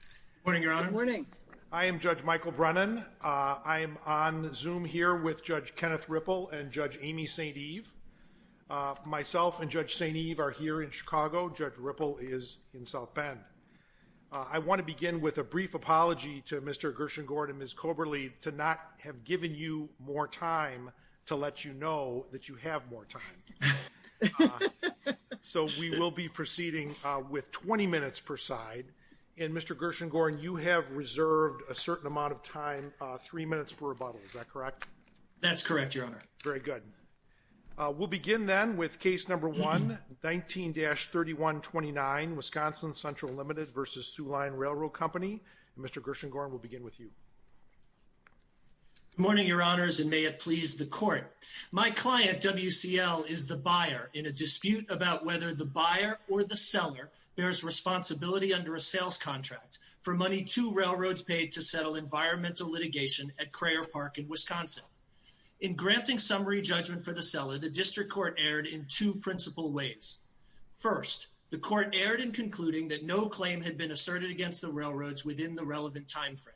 Good morning, Your Honor. I am Judge Michael Brennan. I am on Zoom here with Judge Kenneth Ripple and Judge Amy St. Eve. Myself and Judge St. Eve are here in Chicago. Judge Ripple is in South Bend. I want to begin with a brief apology to Mr. Gershengord and Ms. Koberle to not have given you more time to let you know that you have more time. So, we will be proceeding with 20 minutes per side. And Mr. Gershengord, you have reserved a certain amount of time, three minutes for rebuttal. Is that correct? That's correct, Your Honor. Very good. We'll begin then with case number 119-3129, Wisconsin Central LTD v. Soo Line Railroad Company. Mr. Gershengord, we'll begin with you. Good morning, Your Honors, and may it please the Court. My client, WCL, is the buyer in a dispute about whether the buyer or the seller bears responsibility under a sales contract for money two railroads paid to settle environmental litigation at Crayer Park in Wisconsin. In granting summary judgment for the seller, the District Court erred in two principal ways. First, the Court erred in concluding that no claim had been asserted against the railroads within the relevant time frame.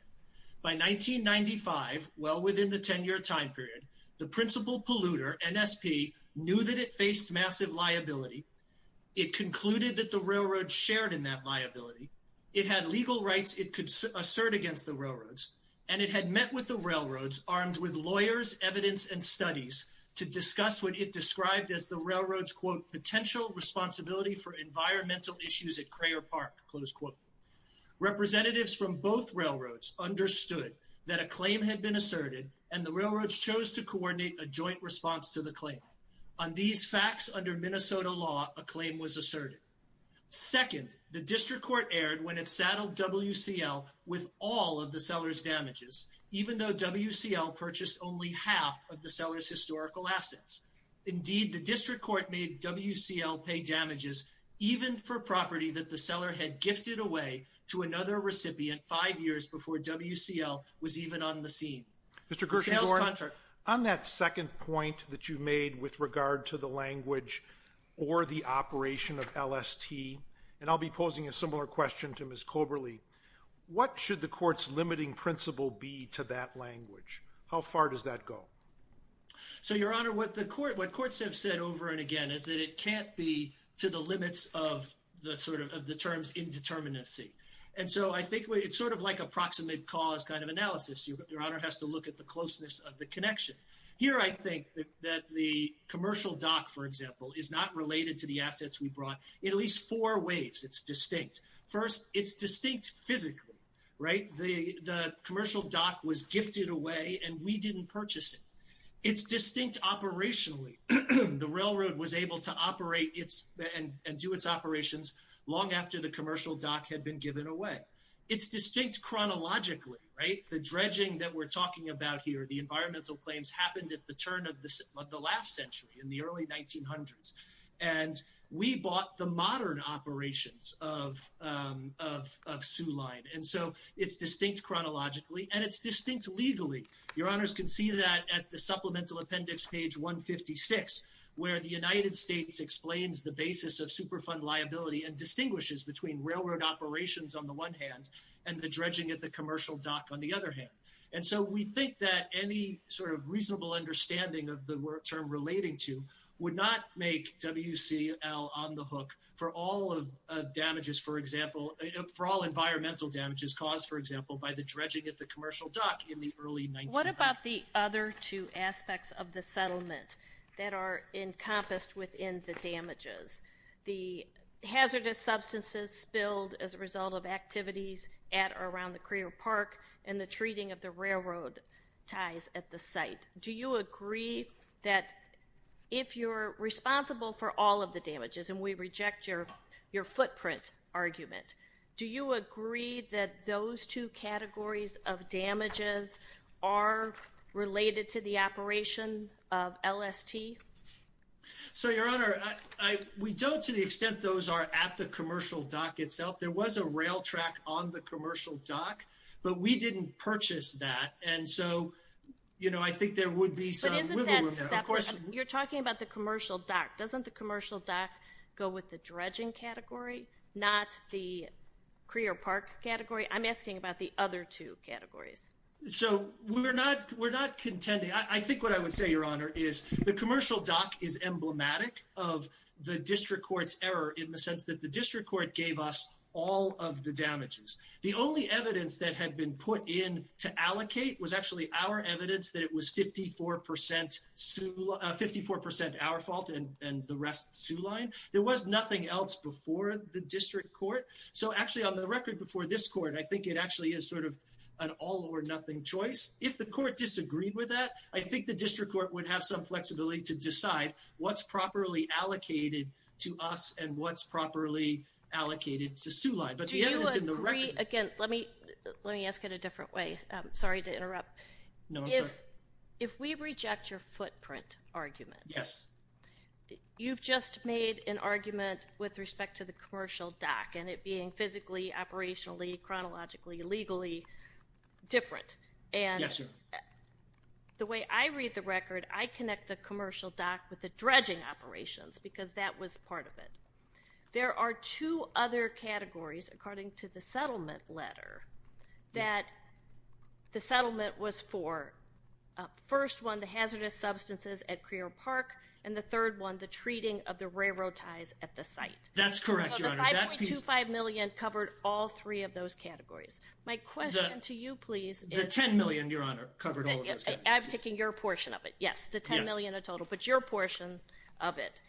By 1995, well within the 10-year time period, the principal polluter, NSP, knew that it faced massive liability. It concluded that the railroad shared in that liability. It had legal rights it could assert against the railroads, and it had met with the railroads armed with lawyers, evidence, and studies to discuss what it described as the railroad's, quote, potential responsibility for environmental issues at Crayer Park, close quote. Representatives from both railroads understood that a claim had been asserted, and the railroads chose to coordinate a joint response to the claim. On these facts, under Minnesota law, a claim was asserted. Second, the District Court erred when it saddled WCL with all of the seller's damages, even though WCL purchased only half of the seller's historical assets. Indeed, the District had gifted away to another recipient five years before WCL was even on the scene. Mr. Gershengorn, on that second point that you made with regard to the language or the operation of LST, and I'll be posing a similar question to Ms. Coberly, what should the Court's limiting principle be to that language? How far does that go? So, Your Honor, what the Court, what Courts have said over and again is that it can't be to the limits of the sort of, of the terms indeterminacy. And so I think it's sort of like a proximate cause kind of analysis. Your Honor has to look at the closeness of the connection. Here, I think that the commercial dock, for example, is not related to the assets we brought in at least four ways. It's distinct. First, it's distinct physically, right? The commercial dock was gifted away and we didn't purchase it. It's distinct operationally. The railroad was able to operate its, and do its operations long after the commercial dock had been given away. It's distinct chronologically, right? The dredging that we're talking about here, the environmental claims happened at the turn of the last century, in the early 1900s. And we bought the modern operations of, of, of Soo Line. And so it's distinct chronologically and it's distinct legally. Your Honors can see that at the supplemental appendix, page 156, where the United States explains the basis of Superfund liability and distinguishes between railroad operations on the one hand and the dredging at the commercial dock on the other hand. And so we think that any sort of reasonable understanding of the term relating to would not make WCL on the hook for all of damages, for example, for all environmental damages caused, for example, by the dredging at the commercial dock in the early 1900s. What about the other two aspects of the settlement that are encompassed within the damages? The hazardous substances spilled as a result of activities at or around the Creer Park and the treating of the railroad ties at the site. Do you agree that if you're responsible for all of the damages, and we reject your, your footprint argument, do you agree that those two categories of damages are related to the operation of LST? So your Honor, I, I, we don't to the extent those are at the commercial dock itself. There was a rail track on the commercial dock, but we didn't purchase that. And so, you know, I think there would be some wiggle room there. But isn't that separate? You're talking about the commercial dock. Doesn't the commercial dock go with the dredging category, not the Creer Park category? I'm asking about the other two categories. So we're not, we're not contending. I think what I would say, your Honor, is the commercial dock is emblematic of the district court's error in the sense that the district court gave us all of the damages. The only evidence that had been put in to allocate was actually our evidence that it was 54 percent, 54 percent our fault and, and the rest Soo Line. There was nothing else before the district court. So actually on the record before this court, I think it actually is sort of an all or nothing choice. If the court disagreed with that, I think the district court would have some flexibility to decide what's properly allocated to us and what's properly allocated to Soo Line. But the evidence in the record... Do you agree, again, let me, let me ask it a different way. Sorry to interrupt. No, I'm sorry. If we reject your footprint argument. Yes. You've just made an argument with respect to the commercial dock and it being physically, operationally, chronologically, legally different. And the way I read the record, I connect the commercial dock with the dredging operations because that was part of it. There are two other categories according to the settlement letter that the settlement was for. First one, the hazardous substances at Creole Park and the third one, the treating of the railroad ties at the site. That's correct, Your Honor. 5.25 million covered all three of those categories. My question to you, please. The 10 million, Your Honor, covered all of those categories. I'm taking your portion of it. Yes, the 10 million in total, but your portion of it.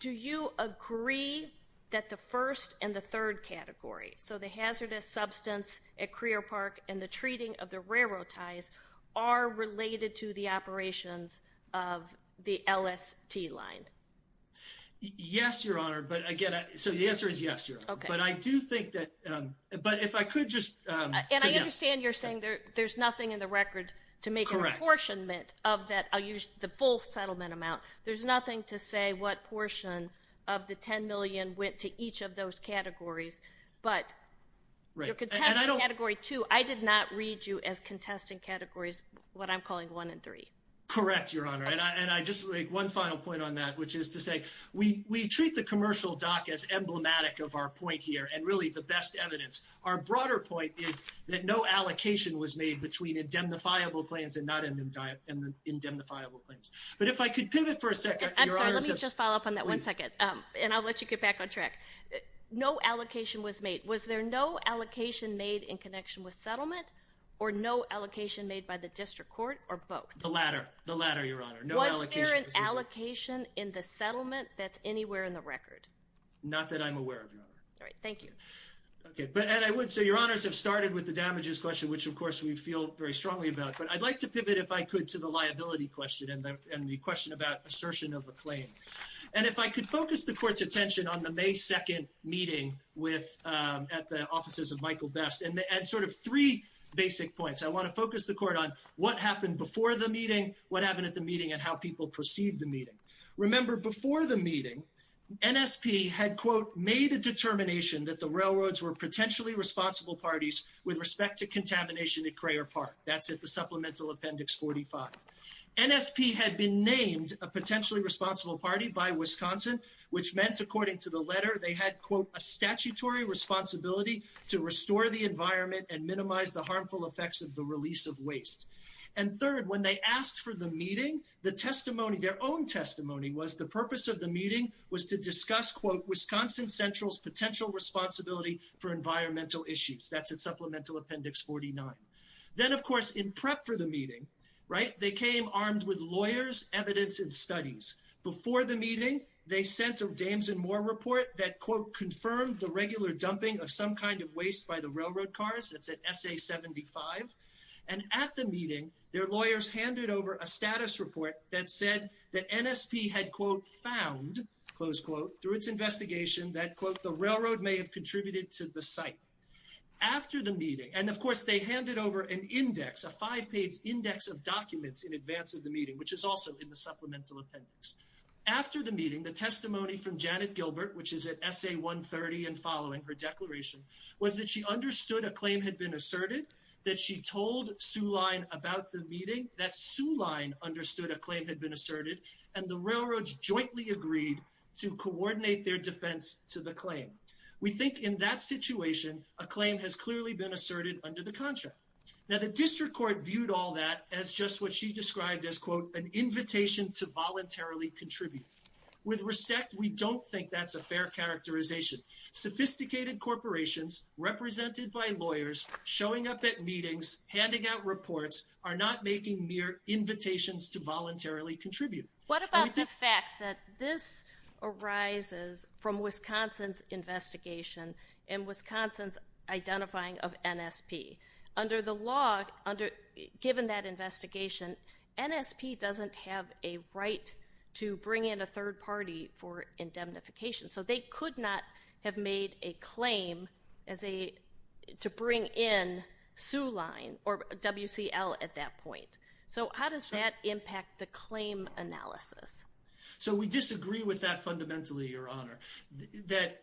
Do you agree that the first and the third category, so the hazardous substance at Creole Park and the treating of the railroad ties are related to the operations of the LST line? Yes, Your Honor. But again, so the answer is yes, Your Honor. But I do think that, but if I could just... And I understand you're saying there's nothing in the record to make a proportionment of that. I'll use the full settlement amount. There's nothing to say what portion of the 10 million went to each of those categories, but your contestant category two, I did not read you as contesting categories what I'm calling one and three. Correct, Your Honor. And I just make one final point on that, which is to say we treat the commercial dock as emblematic of our point here and really the best evidence. Our broader point is that no allocation was made between indemnifiable claims and not indemnifiable claims. But if I could pivot for a second. I'm sorry, let me just follow up on that one second and I'll let you get back on track. No allocation was made. Was there no allocation made in connection with settlement or no allocation made by the district court or both? The latter, the latter, Your Honor. Was there an allocation in the settlement that's anywhere in the record? Not that I'm aware of, Your Honor. All right, thank you. Okay, but and I would say Your Honors have started with the damages question, which of course we feel very strongly about, but I'd like to pivot if I could to the liability question and the question about assertion of a claim. And if I could focus the court's attention on the May 2nd meeting with at the offices of Michael Best and sort of three basic points. I want to focus the court on what happened before the meeting, what happened at the meeting, and how people perceived the meeting. Remember before the meeting, NSP had quote made a determination that the railroads were potentially responsible parties with respect to contamination at Crayer Park. That's at the names of potentially responsible party by Wisconsin, which meant according to the letter, they had quote a statutory responsibility to restore the environment and minimize the harmful effects of the release of waste. And third, when they asked for the meeting, the testimony, their own testimony was the purpose of the meeting was to discuss quote Wisconsin Central's potential responsibility for environmental issues. That's at supplemental appendix 49. Then of course, in prep for the meeting, right, they came armed with lawyers, evidence, and studies. Before the meeting, they sent a dames and more report that quote confirmed the regular dumping of some kind of waste by the railroad cars. That's at SA 75. And at the meeting, their lawyers handed over a status report that said that NSP had quote found close quote through its investigation that quote the railroad may have contributed to the site. After the meeting, and of course they handed over an index, a five page index of documents in advance of the meeting, which is also in the supplemental appendix. After the meeting, the testimony from Janet Gilbert, which is at SA 130 and following her declaration was that she understood a claim had been asserted, that she told Sue Line about the meeting, that Sue Line understood a claim had been asserted, and the railroads jointly agreed to coordinate their defense to the claim. We think in that situation, a claim has clearly been asserted under the contract. Now the district court viewed all that as just what she described as quote an invitation to voluntarily contribute. With respect, we don't think that's a fair characterization. Sophisticated corporations represented by lawyers showing up at meetings, handing out reports, are not making mere invitations to voluntarily contribute. What about the fact that this arises from Wisconsin's investigation and Wisconsin's identifying of NSP? Under the law, given that investigation, NSP doesn't have a right to bring in a third party for indemnification, so they could not have made a claim to bring in Sue Line or WCL at that point. So how does that impact the claim analysis? So we disagree with that fundamentally, your honor, that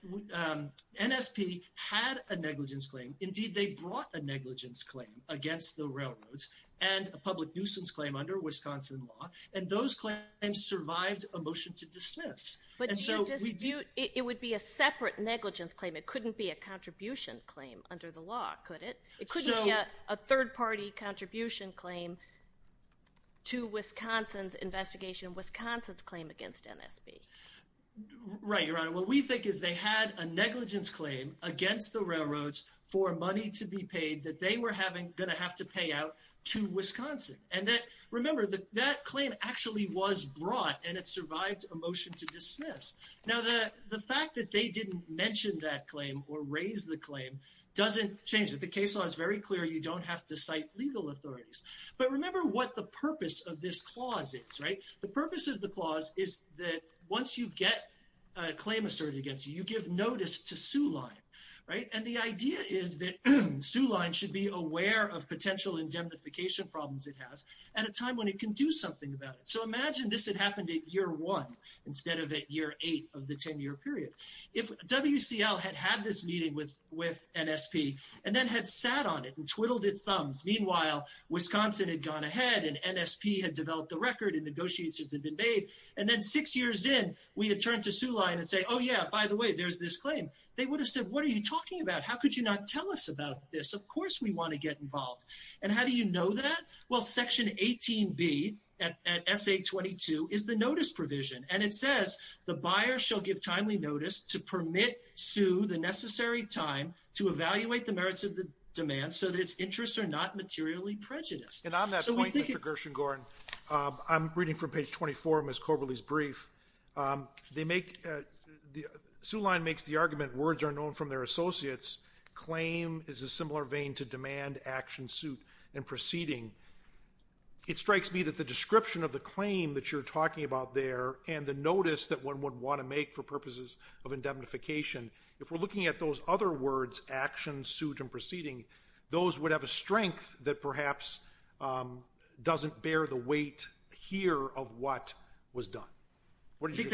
NSP had a negligence claim. Indeed, they brought a negligence claim against the railroads and a public nuisance claim under Wisconsin law, and those claims survived a motion to dismiss. But your dispute, it would be a separate negligence claim. It couldn't be a third party contribution claim to Wisconsin's investigation, Wisconsin's claim against NSP. Right, your honor. What we think is they had a negligence claim against the railroads for money to be paid that they were having going to have to pay out to Wisconsin. And that, remember, that claim actually was brought and it survived a motion to dismiss. Now the fact that they didn't mention that claim or raise the claim doesn't change it. The case law is very clear, you don't have to cite legal authorities. But remember what the purpose of this clause is, right? The purpose of the clause is that once you get a claim asserted against you, you give notice to Sue Line, right? And the idea is that Sue Line should be aware of potential indemnification problems it has at a time when it can do something about it. So imagine this had happened at year one instead of year eight of the 10-year period. If WCL had had this meeting with NSP and then had sat on it and twiddled its thumbs, meanwhile, Wisconsin had gone ahead and NSP had developed the record and negotiations had been made. And then six years in, we had turned to Sue Line and say, oh yeah, by the way, there's this claim. They would have said, what are you talking about? How could you not tell us about this? Of course we want to get involved. And how do you know that? Well, the buyer shall give timely notice to permit Sue the necessary time to evaluate the merits of the demand so that its interests are not materially prejudiced. And on that point, Mr. Gershengorn, I'm reading from page 24 of Ms. Korbely's brief. Sue Line makes the argument, words are known from their associates. Claim is a similar vein to demand, action, suit, and proceeding. It strikes me that the description of the claim that you're for purposes of indemnification. If we're looking at those other words, action, suit, and proceeding, those would have a strength that perhaps doesn't bear the weight here of what was done. What do you think?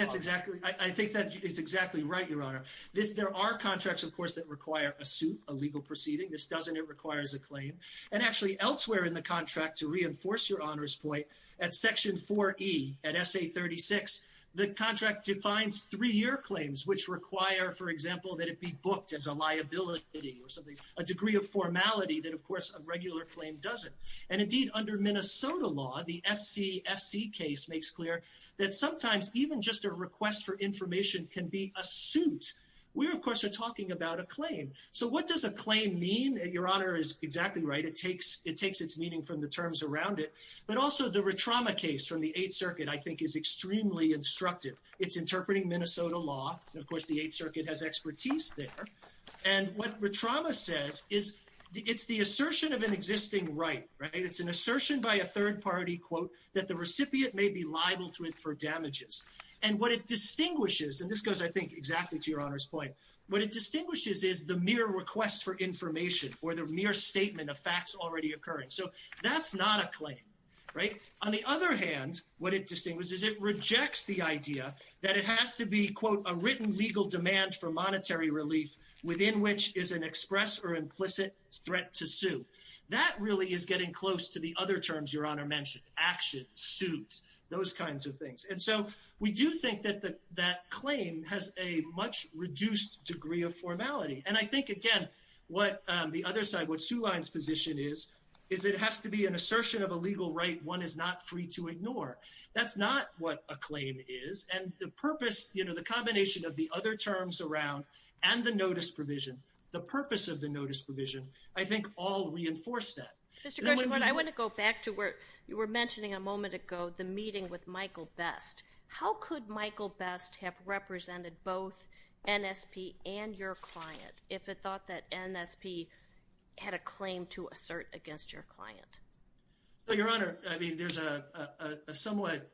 I think that's exactly right, Your Honor. There are contracts, of course, that require a suit, a legal proceeding. This doesn't. It requires a claim. And actually elsewhere in the contract, to reinforce Your Honor's point, at section 4E, at SA 36, the contract defines three-year claims, which require, for example, that it be booked as a liability or something, a degree of formality that, of course, a regular claim doesn't. And indeed, under Minnesota law, the SCSC case makes clear that sometimes even just a request for information can be a suit. We, of course, are talking about a claim. So what does a claim mean? Your Honor is exactly right. It takes its meaning from the terms around it. But also, the Rotrama case from the Eighth Circuit, I think, is extremely instructive. It's interpreting Minnesota law. And of course, the Eighth Circuit has expertise there. And what Rotrama says is it's the assertion of an existing right. It's an assertion by a third party, quote, that the recipient may be liable to it for damages. And what it distinguishes, and this goes, I think, exactly to Your Honor's point, what it distinguishes is the mere request for information or the mere statement of facts already occurring. So that's not a claim, right? On the other hand, what it distinguishes is it rejects the idea that it has to be, quote, a written legal demand for monetary relief within which is an express or implicit threat to sue. That really is getting close to the other terms Your Honor mentioned, action, suit, those kinds of things. And so we do think that that claim has a much reduced degree of formality. And I think, again, what the other side, what Suleyn's position is, is it has to be an assertion of a legal right one is not free to ignore. That's not what a claim is. And the purpose, you know, the combination of the other terms around and the notice provision, the purpose of the notice provision, I think, all reinforce that. Mr. Gershengorn, I want to go back to where you were mentioning a moment ago, the meeting with Michael Best. How could Michael Best have your client if it thought that NSP had a claim to assert against your client? Well, Your Honor, I mean, there's a somewhat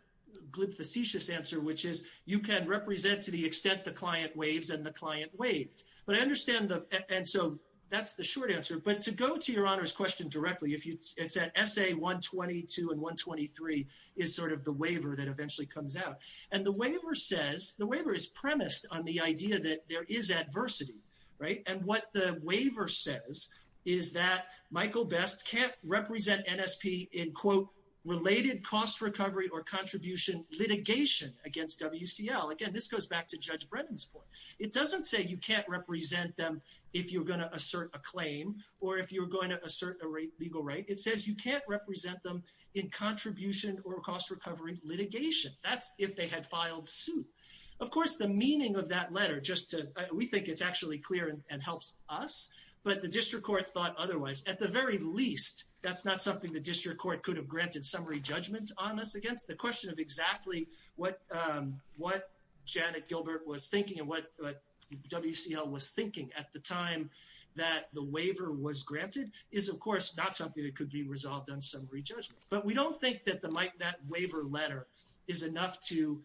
glib, facetious answer, which is you can represent to the extent the client waives and the client waived. But I understand, and so that's the short answer. But to go to Your Honor's question directly, it's that SA-122 and 123 is sort of the waiver that eventually comes out. And the waiver says, the waiver is premised on the idea that there is adversity, right? And what the waiver says is that Michael Best can't represent NSP in, quote, related cost recovery or contribution litigation against WCL. Again, this goes back to Judge Brennan's point. It doesn't say you can't represent them if you're going to assert a claim or if you're going to assert a legal right. It says you can't represent them in contribution or cost recovery litigation. That's if they had filed suit. Of course, the meaning of that letter, we think it's actually clear and helps us, but the District Court thought otherwise. At the very least, that's not something the District Court could have granted summary judgment on us against. The question of exactly what Janet Gilbert was thinking and what WCL was thinking at the time that the waiver was granted is, of course, not something that could be resolved on summary judgment. But we don't think that that waiver letter is enough to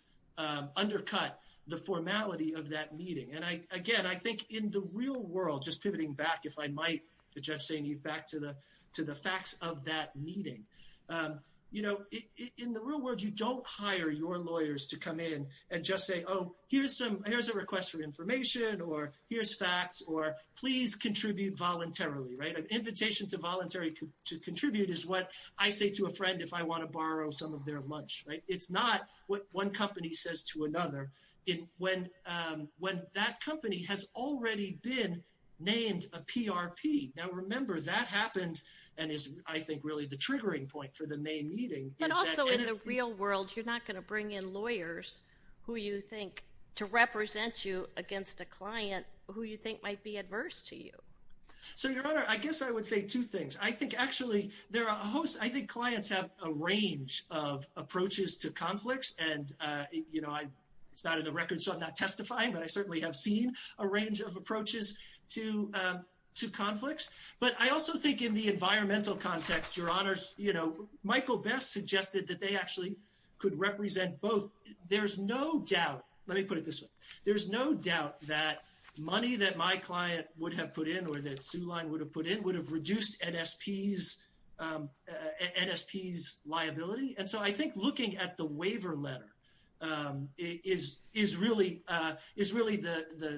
undercut the formality of that meeting. And, again, I think in the real world, just pivoting back, if I might, to Judge St. Eve, back to the facts of that meeting, you know, in the real world, you don't hire your lawyers to come in and just say, oh, here's a request for information or here's facts or please contribute voluntarily, right? An invitation to voluntarily contribute is what I say to a friend if I want to borrow some of their lunch, right? It's not what one company says to another when that company has already been named a PRP. Now, remember, that happened and is, I think, really the triggering point for the May meeting. But also in the real world, you're not going to bring in lawyers who you think to represent you against a client who you think might be adverse to you. So, Your Honor, I guess I would say two things. I think, actually, there are a host—I think it's not in the record, so I'm not testifying, but I certainly have seen a range of approaches to conflicts. But I also think in the environmental context, Your Honor, Michael Best suggested that they actually could represent both. There's no doubt—let me put it this way—there's no doubt that money that my client would have put in or that Zuline would have put in would have reduced NSP's liability. And so I think looking at the waiver letter, it is really the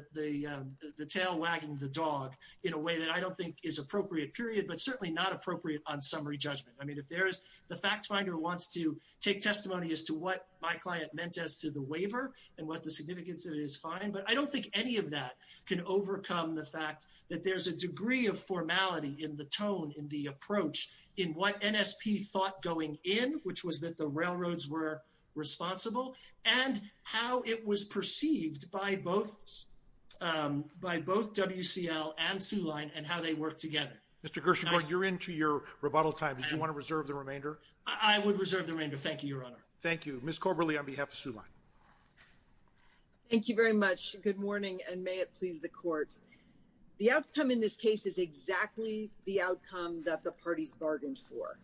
tail wagging the dog in a way that I don't think is appropriate, period, but certainly not appropriate on summary judgment. I mean, if there's—the fact finder wants to take testimony as to what my client meant as to the waiver and what the significance of it is fine, but I don't think any of that can overcome the fact that there's a degree of formality in the tone, in the approach, in what NSP thought going in, which was that the how it was perceived by both WCL and Zuline and how they worked together. Mr. Gershengorn, you're into your rebuttal time. Do you want to reserve the remainder? I would reserve the remainder. Thank you, Your Honor. Thank you. Ms. Corberley on behalf of Zuline. Thank you very much. Good morning, and may it please the Court. The outcome in this case is exactly the outcome that the parties bargained for.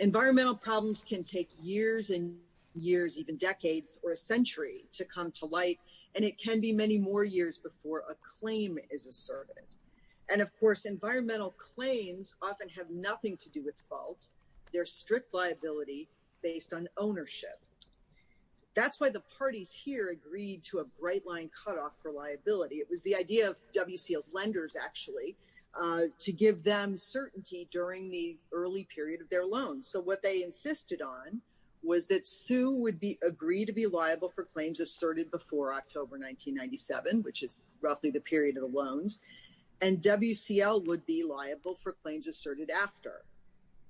Environmental problems can take years and years, even decades or a century to come to light, and it can be many more years before a claim is asserted. And, of course, environmental claims often have nothing to do with faults. They're strict liability based on ownership. That's why the parties here agreed to a bright-line cutoff for liability. It was the idea of WCL's lenders, actually, to give them certainty during the early period of their loans. So what they insisted on was that Sue would agree to be liable for claims asserted before October 1997, which is roughly the period of the loans, and WCL would be liable for claims asserted after.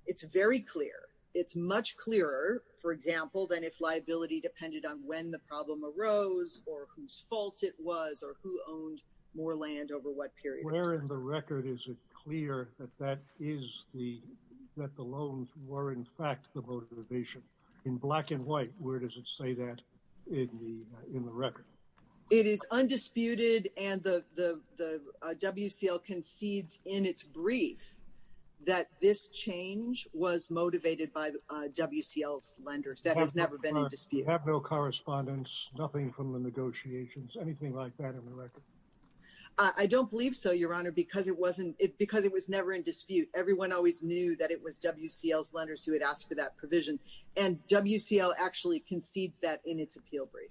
It's very clear. It's much clearer, for example, than if liability depended on when the problem arose or whose fault it was or who owned more land over what period. Where in the record is it clear that the loans were, in fact, the motivation? In black and white, where does it say that in the record? It is undisputed, and WCL concedes in its brief that this change was motivated by WCL's lenders. That has never been in dispute. Have no correspondence, nothing from the negotiations, anything like that in the record? I don't believe so, Your Honor, because it was never in dispute. Everyone always knew that it was WCL's lenders who had asked for that provision, and WCL actually concedes that in its appeal brief.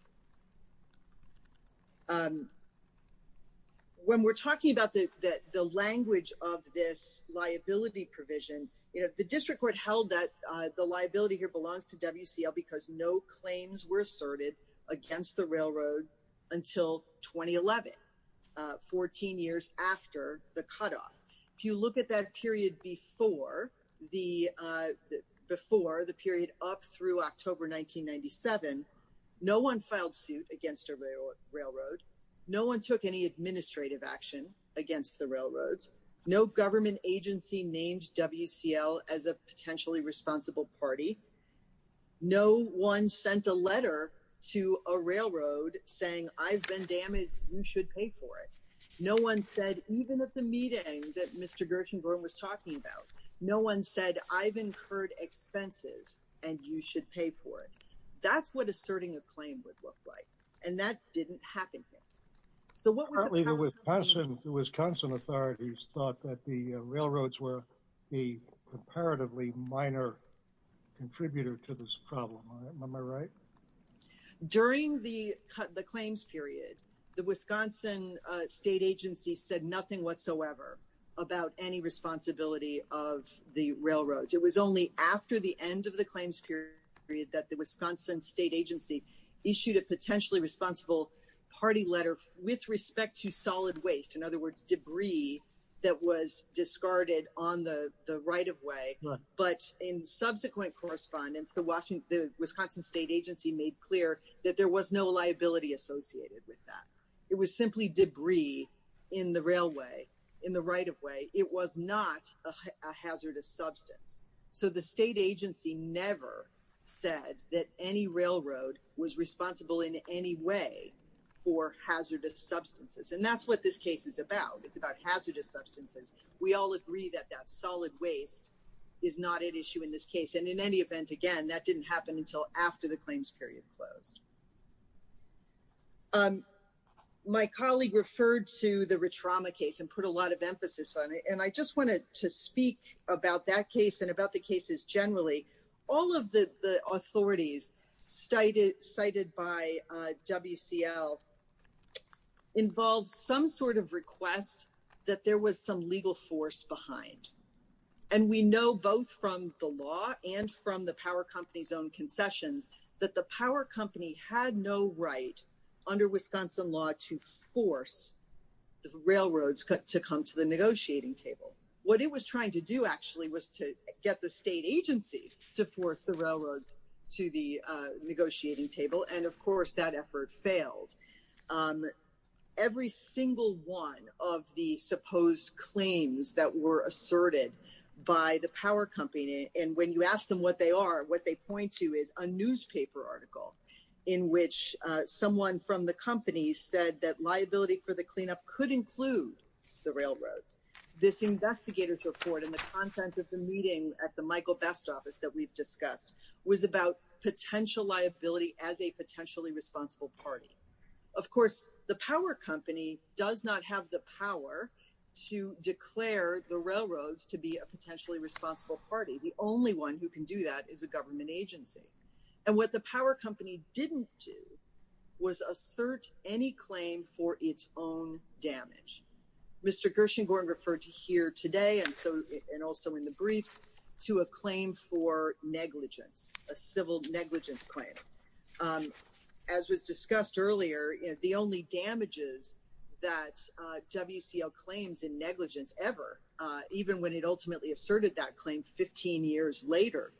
When we're talking about the language of this liability provision, the district court held that the liability here belongs to WCL because no claims were asserted against the railroad until 2011, 14 years after the cutoff. If you look at that period before the period up through October 1997, no one filed suit against a railroad. No one took administrative action against the railroads. No government agency named WCL as a potentially responsible party. No one sent a letter to a railroad saying, I've been damaged, you should pay for it. No one said, even at the meeting that Mr. Gershenborn was talking about, no one said, I've incurred expenses, and you should pay for it. That's what asserting a claim would look like, and that didn't happen here. Currently, the Wisconsin authorities thought that the railroads were a comparatively minor contributor to this problem. Am I right? During the claims period, the Wisconsin State Agency said nothing whatsoever about any responsibility of the railroads. It was only after the end of the claims period that the Wisconsin State Agency issued a potentially responsible party letter with respect to solid waste, in other words, debris that was discarded on the right-of-way. But in subsequent correspondence, the Wisconsin State Agency made clear that there was no liability associated with that. It was simply debris in the railway, in the right-of-way. It was not a hazardous substance. So the state agency never said that any railroad was responsible in any way for hazardous substances, and that's what this case is about. It's about hazardous substances. We all agree that that solid waste is not at issue in this case, and in any event, again, that didn't happen until after the claims period closed. My colleague referred to the Ritrama case and put a lot of emphasis on it, and I just wanted to speak about that case and about the cases generally. All of the authorities cited by WCL involved some sort of request that there was some legal force behind. And we know both from the law and from the power company's own concessions that the power company had no right under Wisconsin law to force the railroads to come to the negotiating table. What it was trying to do actually was to get the state agency to force the railroad to the negotiating table, and of course, that effort failed. Every single one of the supposed claims that were asserted by the power company, and when you ask them what they are, what they point to is a newspaper article in which someone from the company said that liability for the cleanup could include the railroad. This investigator's report and the content of the meeting at the Michael Best office that we've discussed was about potential liability as a potentially responsible party. Of course, the power company does not have the power to declare the railroads to be a potentially responsible party. The only one who can do that is a government agency. And what the power company didn't do was assert any claim for its own damage. Mr. Gershengorn referred to here today and also in the briefs to a claim for negligence, a civil negligence claim. As was discussed earlier, the only damages that WCL claims in negligence ever, even when it ultimately asserted that claim 15 years later,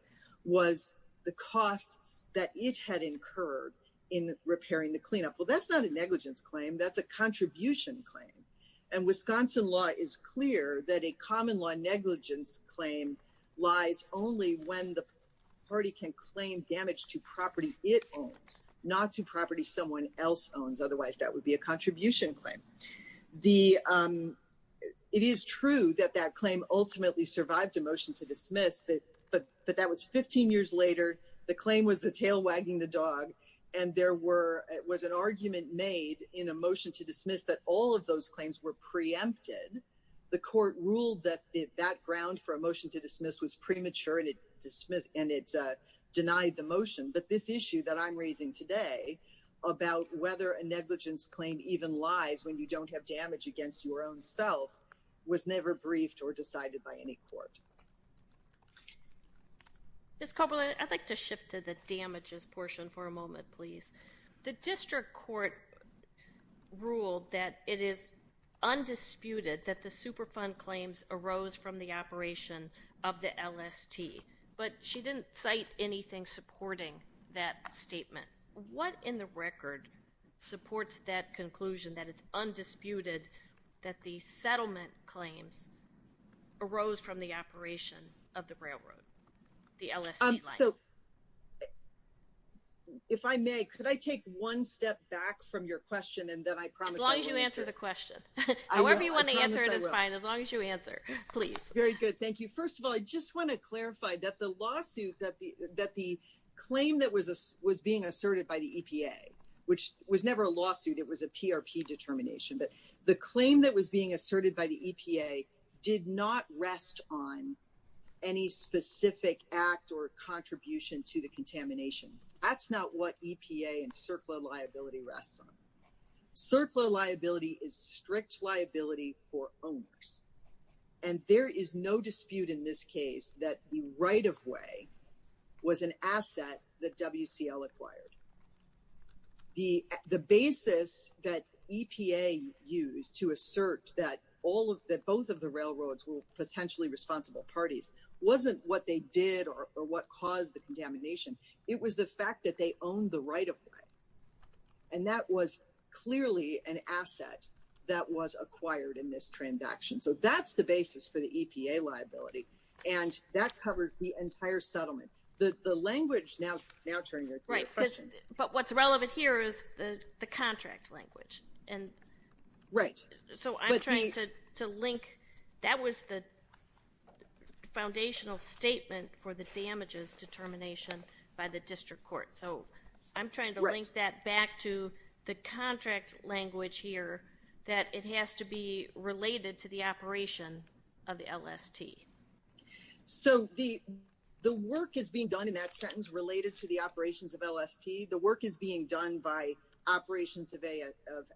was the costs that it had incurred in repairing the cleanup. Well, that's not a negligence claim. That's a contribution claim. And Wisconsin law is clear that a common law negligence claim lies only when the party can claim damage to property it owns, not to property someone else owns. Otherwise, that would be a contribution claim. It is true that that claim ultimately survived a motion to dismiss, but that was 15 years later. The claim was the tail wagging the dog. And there was an argument made in a motion to dismiss that all of those claims were preempted. The court ruled that that ground for a motion to dismiss was premature and it denied the motion. But this issue that I'm raising today about whether a negligence claim even lies when you don't have damage against your own self was never briefed or decided by any court. Ms. Copeland, I'd like to shift to the damages portion for a moment, please. The district court ruled that it is undisputed that the Superfund claims arose from the operation of the LST, but she didn't cite anything supporting that statement. What in the record supports that conclusion that it's undisputed that the settlement claims arose from the operation of the railroad, the LST line? So, if I may, could I take one step back from your question and then I promise... As long as you answer the question. However you want to answer it is fine, as long as you answer, please. Very good. Thank you. First of all, I just want to clarify that the lawsuit that the claim that was being asserted by the EPA, which was never a lawsuit, it was a PRP determination, but the claim that was being asserted by the EPA did not rest on any specific act or contribution to the contamination. That's not what EPA and CERCLA liability rests on. CERCLA liability is strict liability for owners, and there is no dispute in this case that the to assert that both of the railroads were potentially responsible parties wasn't what they did or what caused the contamination. It was the fact that they owned the right of way, and that was clearly an asset that was acquired in this transaction. So, that's the basis for the EPA liability, and that covered the entire settlement. The language now turning to your question... The contract language. Right. So, I'm trying to link... That was the foundational statement for the damages determination by the district court. So, I'm trying to link that back to the contract language here that it has to be related to the operation of the LST. So, the work is being done in that sentence related to the operations of LST. The work is being done by operations of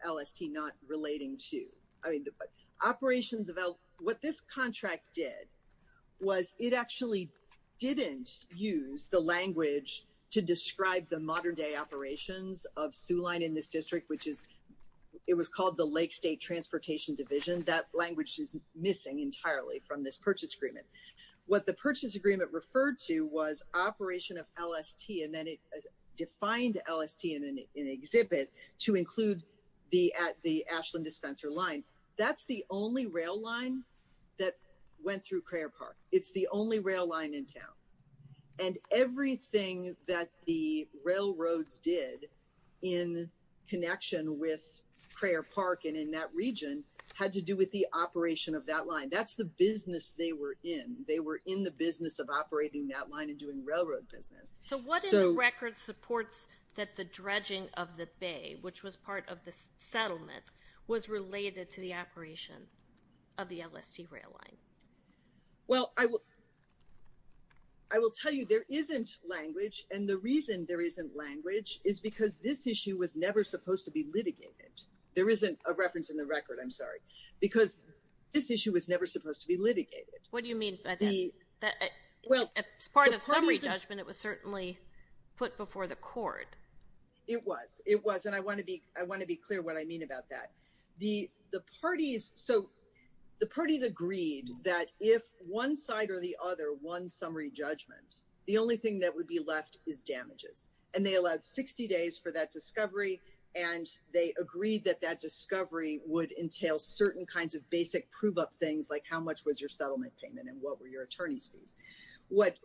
LST not relating to... What this contract did was it actually didn't use the language to describe the modern day operations of Soo Line in this district, which is... It was called the Lake State Transportation Division. That language is missing entirely from this purchase agreement. What the purchase agreement referred to was operation of LST, and then it defined LST in an exhibit to include the Ashland dispenser line. That's the only rail line that went through Crayer Park. It's the only rail line in town, and everything that the railroads did in connection with Crayer Park and in that region had to do with the operation of that line. That's the business they were in. They were in the railroad business. So, what in the record supports that the dredging of the bay, which was part of the settlement, was related to the operation of the LST rail line? Well, I will tell you there isn't language, and the reason there isn't language is because this issue was never supposed to be litigated. There isn't a reference in the record, I'm sorry, because this issue was never supposed to be litigated. What do you mean by that? Well, as part of summary judgment, it was certainly put before the court. It was. It was, and I want to be clear what I mean about that. The parties agreed that if one side or the other won summary judgment, the only thing that would be left is damages, and they allowed 60 days for that discovery, and they and what were your attorney's fees. What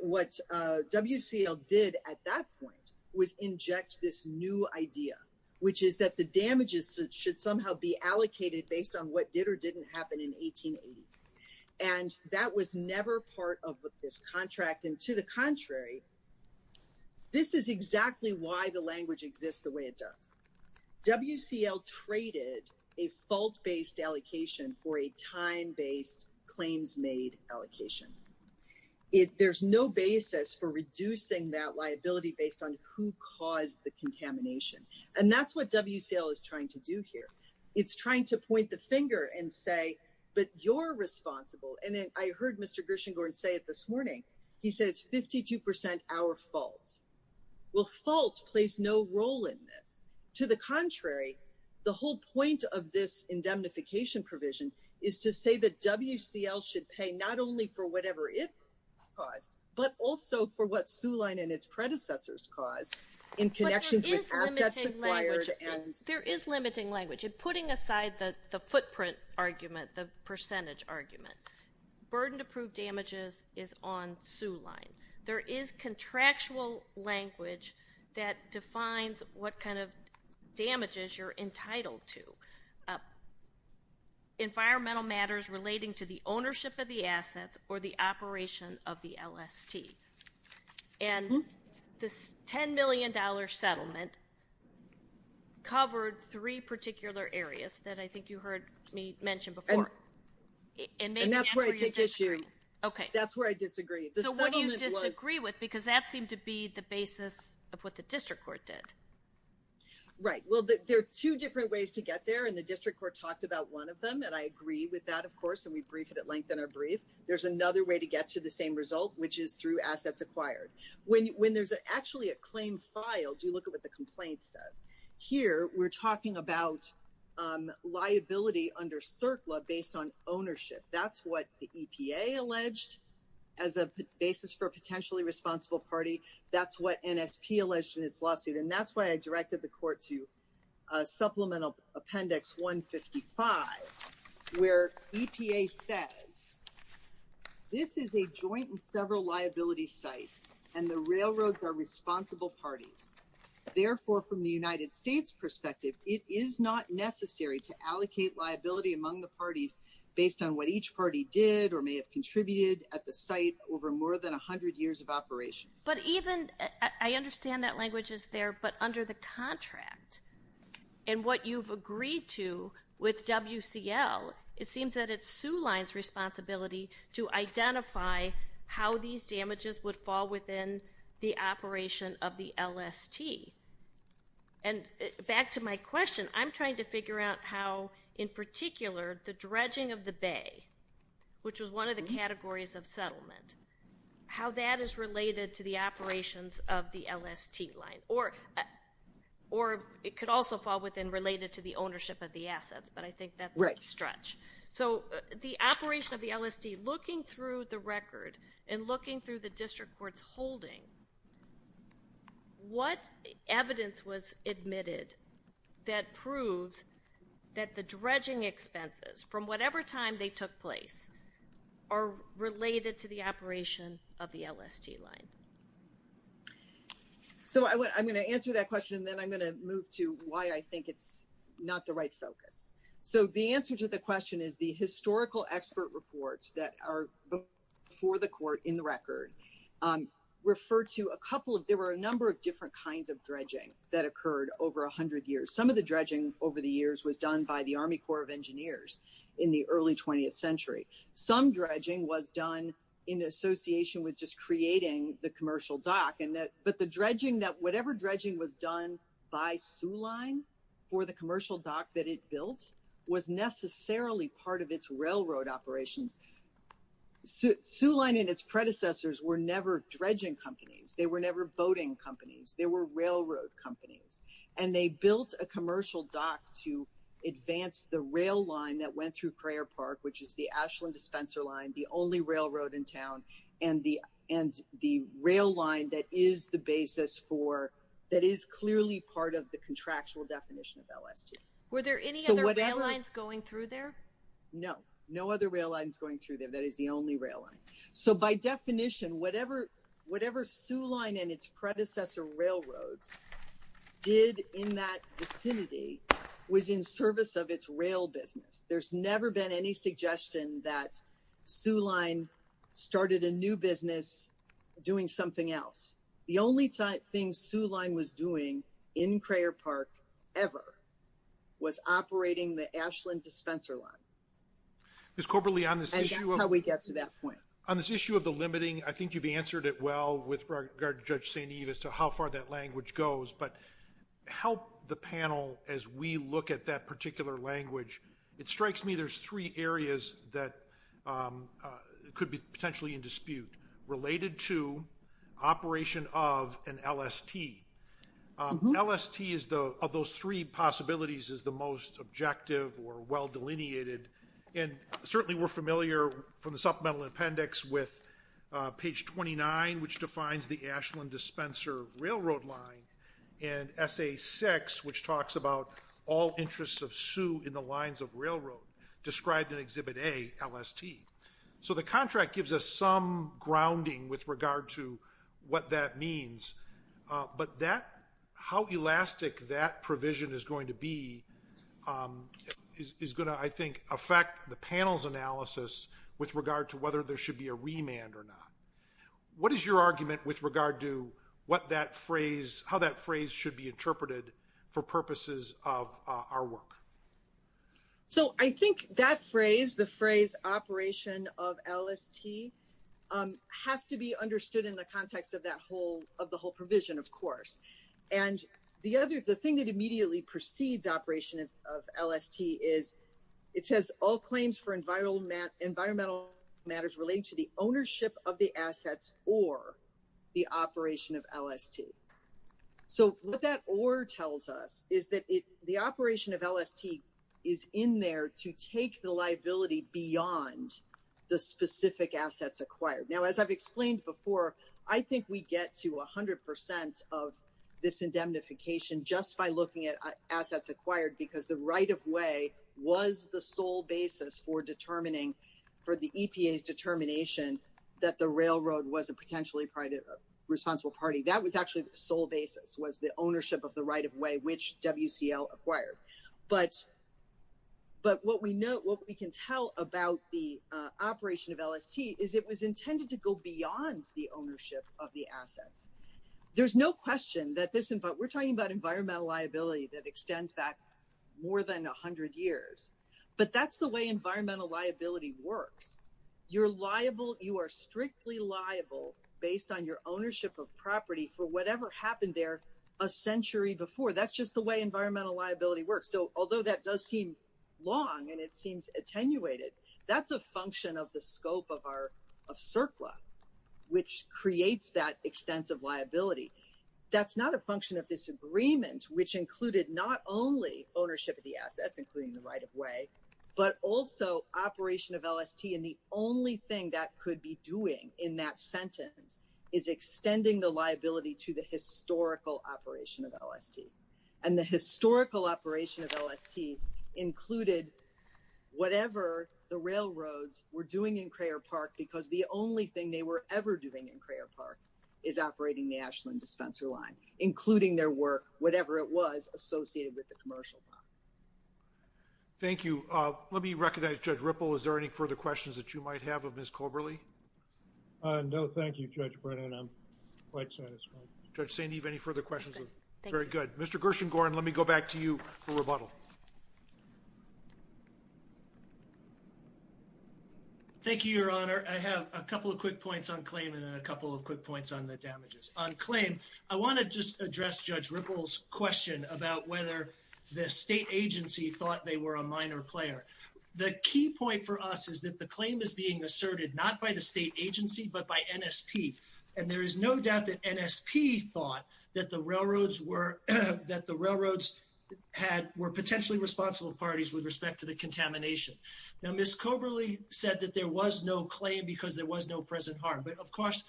WCL did at that point was inject this new idea, which is that the damages should somehow be allocated based on what did or didn't happen in 1880, and that was never part of this contract, and to the contrary, this is exactly why the allocation. There's no basis for reducing that liability based on who caused the contamination, and that's what WCL is trying to do here. It's trying to point the finger and say, but you're responsible, and I heard Mr. Gershengorn say it this morning. He said it's 52 percent our fault. Well, fault plays no role in this. To the contrary, the whole point of this indemnification provision is to say that WCL should pay not only for whatever it caused, but also for what Soo Line and its predecessors caused in connections with assets acquired. There is limiting language, and putting aside the footprint argument, the percentage argument, burdened approved damages is on Soo Line. There is contractual language that defines what kind of damages you're entitled to. Environmental matters relating to the ownership of the assets or the operation of the LST, and this $10 million settlement covered three particular areas that I think you heard me before. And that's where I disagree. So what do you disagree with? Because that seemed to be the basis of what the district court did. Right. Well, there are two different ways to get there, and the district court talked about one of them, and I agree with that, of course, and we briefed it at length in our brief. There's another way to get to the same result, which is through assets acquired. When there's actually a claim filed, you look at what the ownership. That's what the EPA alleged as a basis for a potentially responsible party. That's what NSP alleged in its lawsuit, and that's why I directed the court to supplemental appendix 155, where EPA says this is a joint and several liability site, and the railroads are responsible parties. Therefore, from the United States perspective, it is not necessary to allocate liability among the parties based on what each party did or may have contributed at the site over more than 100 years of operations. But even, I understand that language is there, but under the contract and what you've agreed to with WCL, it seems that it's Sioux Line's responsibility to identify how these damages would fall within the operation of the LST. And back to my question, I'm trying to figure out how, in particular, the dredging of the bay, which was one of the categories of settlement, how that is related to the operations of the LST line, or it could also fall within related to the ownership of the assets, but I think that's a question. So, the operation of the LST, looking through the record and looking through the district court's holding, what evidence was admitted that proves that the dredging expenses from whatever time they took place are related to the operation of the LST line? So, I'm going to answer that question, and then I'm going to move to why I think it's not the right focus. So, the answer to the question is the historical expert reports that are before the court in the record refer to a couple of, there were a number of different kinds of dredging that occurred over 100 years. Some of the dredging over the years was done by the Army Corps of Engineers in the early 20th century. Some dredging was done in association with just creating the commercial dock, but the dredging that, whatever dredging was done by Sioux line for the commercial dock that it built was necessarily part of its railroad operations. Sioux line and its predecessors were never dredging companies. They were never boating companies. They were railroad companies, and they built a commercial dock to advance the rail line that went through Crayer Park, which is the Ashland dispenser line, the only railroad in contractual definition of LST. Were there any other rail lines going through there? No. No other rail lines going through there. That is the only rail line. So, by definition, whatever Sioux line and its predecessor railroads did in that vicinity was in service of its rail business. There's never been any suggestion that Sioux line started a new business doing something else. The only thing Sioux line was doing in Crayer Park ever was operating the Ashland dispenser line. And that's how we get to that point. On this issue of the limiting, I think you've answered it well with regard to Judge St. Eve as to how far that language goes, but help the panel as we look at that particular language. It strikes me there's three areas that could be potentially in dispute related to operation of an LST. LST of those three possibilities is the most objective or well-delineated, and certainly we're familiar from the supplemental appendix with page 29, which defines the Ashland dispenser railroad line, and essay 6, which talks about all interests of LST. So the contract gives us some grounding with regard to what that means, but that, how elastic that provision is going to be is going to, I think, affect the panel's analysis with regard to whether there should be a remand or not. What is your argument with regard to what that phrase, how that phrase should be interpreted for purposes of our work? So I think that phrase, the phrase operation of LST, has to be understood in the context of that whole, of the whole provision, of course. And the other, the thing that immediately precedes operation of LST is it says all claims for environmental matters relating to the ownership of the assets or the operation of LST. So what that or tells us is that the operation of LST is in there to take the liability beyond the specific assets acquired. Now, as I've explained before, I think we get to 100% of this indemnification just by looking at assets acquired because the right of way was the sole basis for determining, for the EPA's determination that the railroad was a potentially responsible party. That was actually the sole basis, was the ownership of the right of way, which WCL acquired. But what we know, what we can tell about the operation of LST is it was intended to go beyond the ownership of the assets. There's no question that this, we're talking about environmental liability that extends back more than 100 years. But that's the way environmental liability works. You're liable, you are strictly liable based on your ownership of property for whatever happened there a century before. That's just the way environmental liability works. So although that does seem long and it seems attenuated, that's a function of the scope of our, of CERCLA, which creates that extensive liability. That's not a function of this agreement, which included not only ownership of the assets, including the right of way, but also operation of LST. And the only thing that could be doing in that sentence is extending the liability to the historical operation of LST. And the historical operation of LST included whatever the railroads were doing in Crayer Park because the only thing they were ever doing in Crayer Park is operating the Ashland dispenser line, including their work, whatever it was associated with the commercial park. Thank you. Let me recognize Judge Ripple. Is there any further questions that you might have of Ms. Colberly? No, thank you, Judge Brennan. I'm quite satisfied. Judge St. Eve, any further questions? Very good. Mr. Gershengorn, let me go back to you for rebuttal. Thank you, Your Honor. I have a couple of quick points on the damages. On claim, I want to just address Judge Ripple's question about whether the state agency thought they were a minor player. The key point for us is that the claim is being asserted not by the state agency, but by NSP. And there is no doubt that NSP thought that the railroads were potentially responsible parties with respect to the contamination. Now, Ms. Colberly said that there was no claim because there was no present harm. But of course,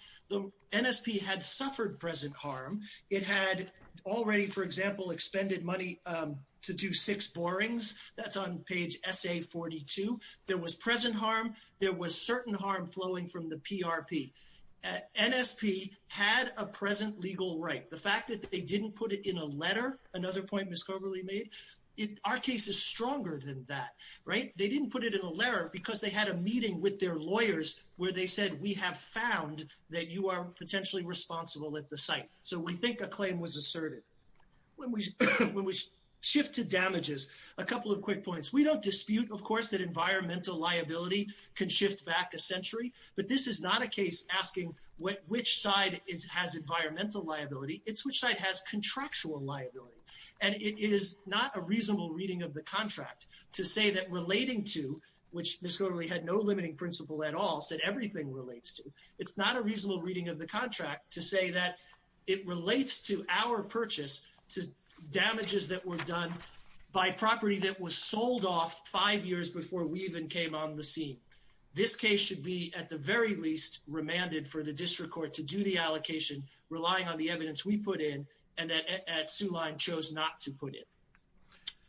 NSP had suffered present harm. It had already, for example, expended money to do six borings. That's on page SA42. There was present harm. There was certain harm flowing from the PRP. NSP had a present legal right. The fact that they didn't put it in a letter, another point Ms. Colberly made, our case is stronger than that, right? They didn't put it in a letter because they had a meeting with their lawyers where they said, we have found that you are potentially responsible at the site. So we think a claim was asserted. When we shift to damages, a couple of quick points. We don't dispute, of course, that environmental liability can shift back a century, but this is not a case asking which side has environmental liability. It's which side has contractual liability. And it is not a reasonable reading of the contract to say that relating to, which Ms. Colberly had no limiting principle at all, said everything relates to. It's not a reasonable reading of the contract to say that it relates to our purchase to damages that were done by property that was sold off five years before we even came on the scene. This case should be at the very least remanded for the district court to do the allocation, relying on the evidence we put in and that at Soo Line chose not to put it.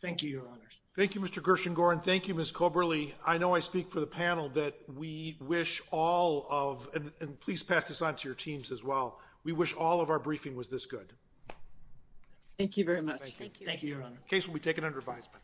Thank you, Your Honors. Thank you, Mr. Gershengorn. Thank you, Ms. Colberly. I know I speak for the panel that we wish all of, and please pass this on to your teams as well, we wish all of our briefing was this good. Thank you very much. Thank you, Your Honor. Case will be taken under advisement.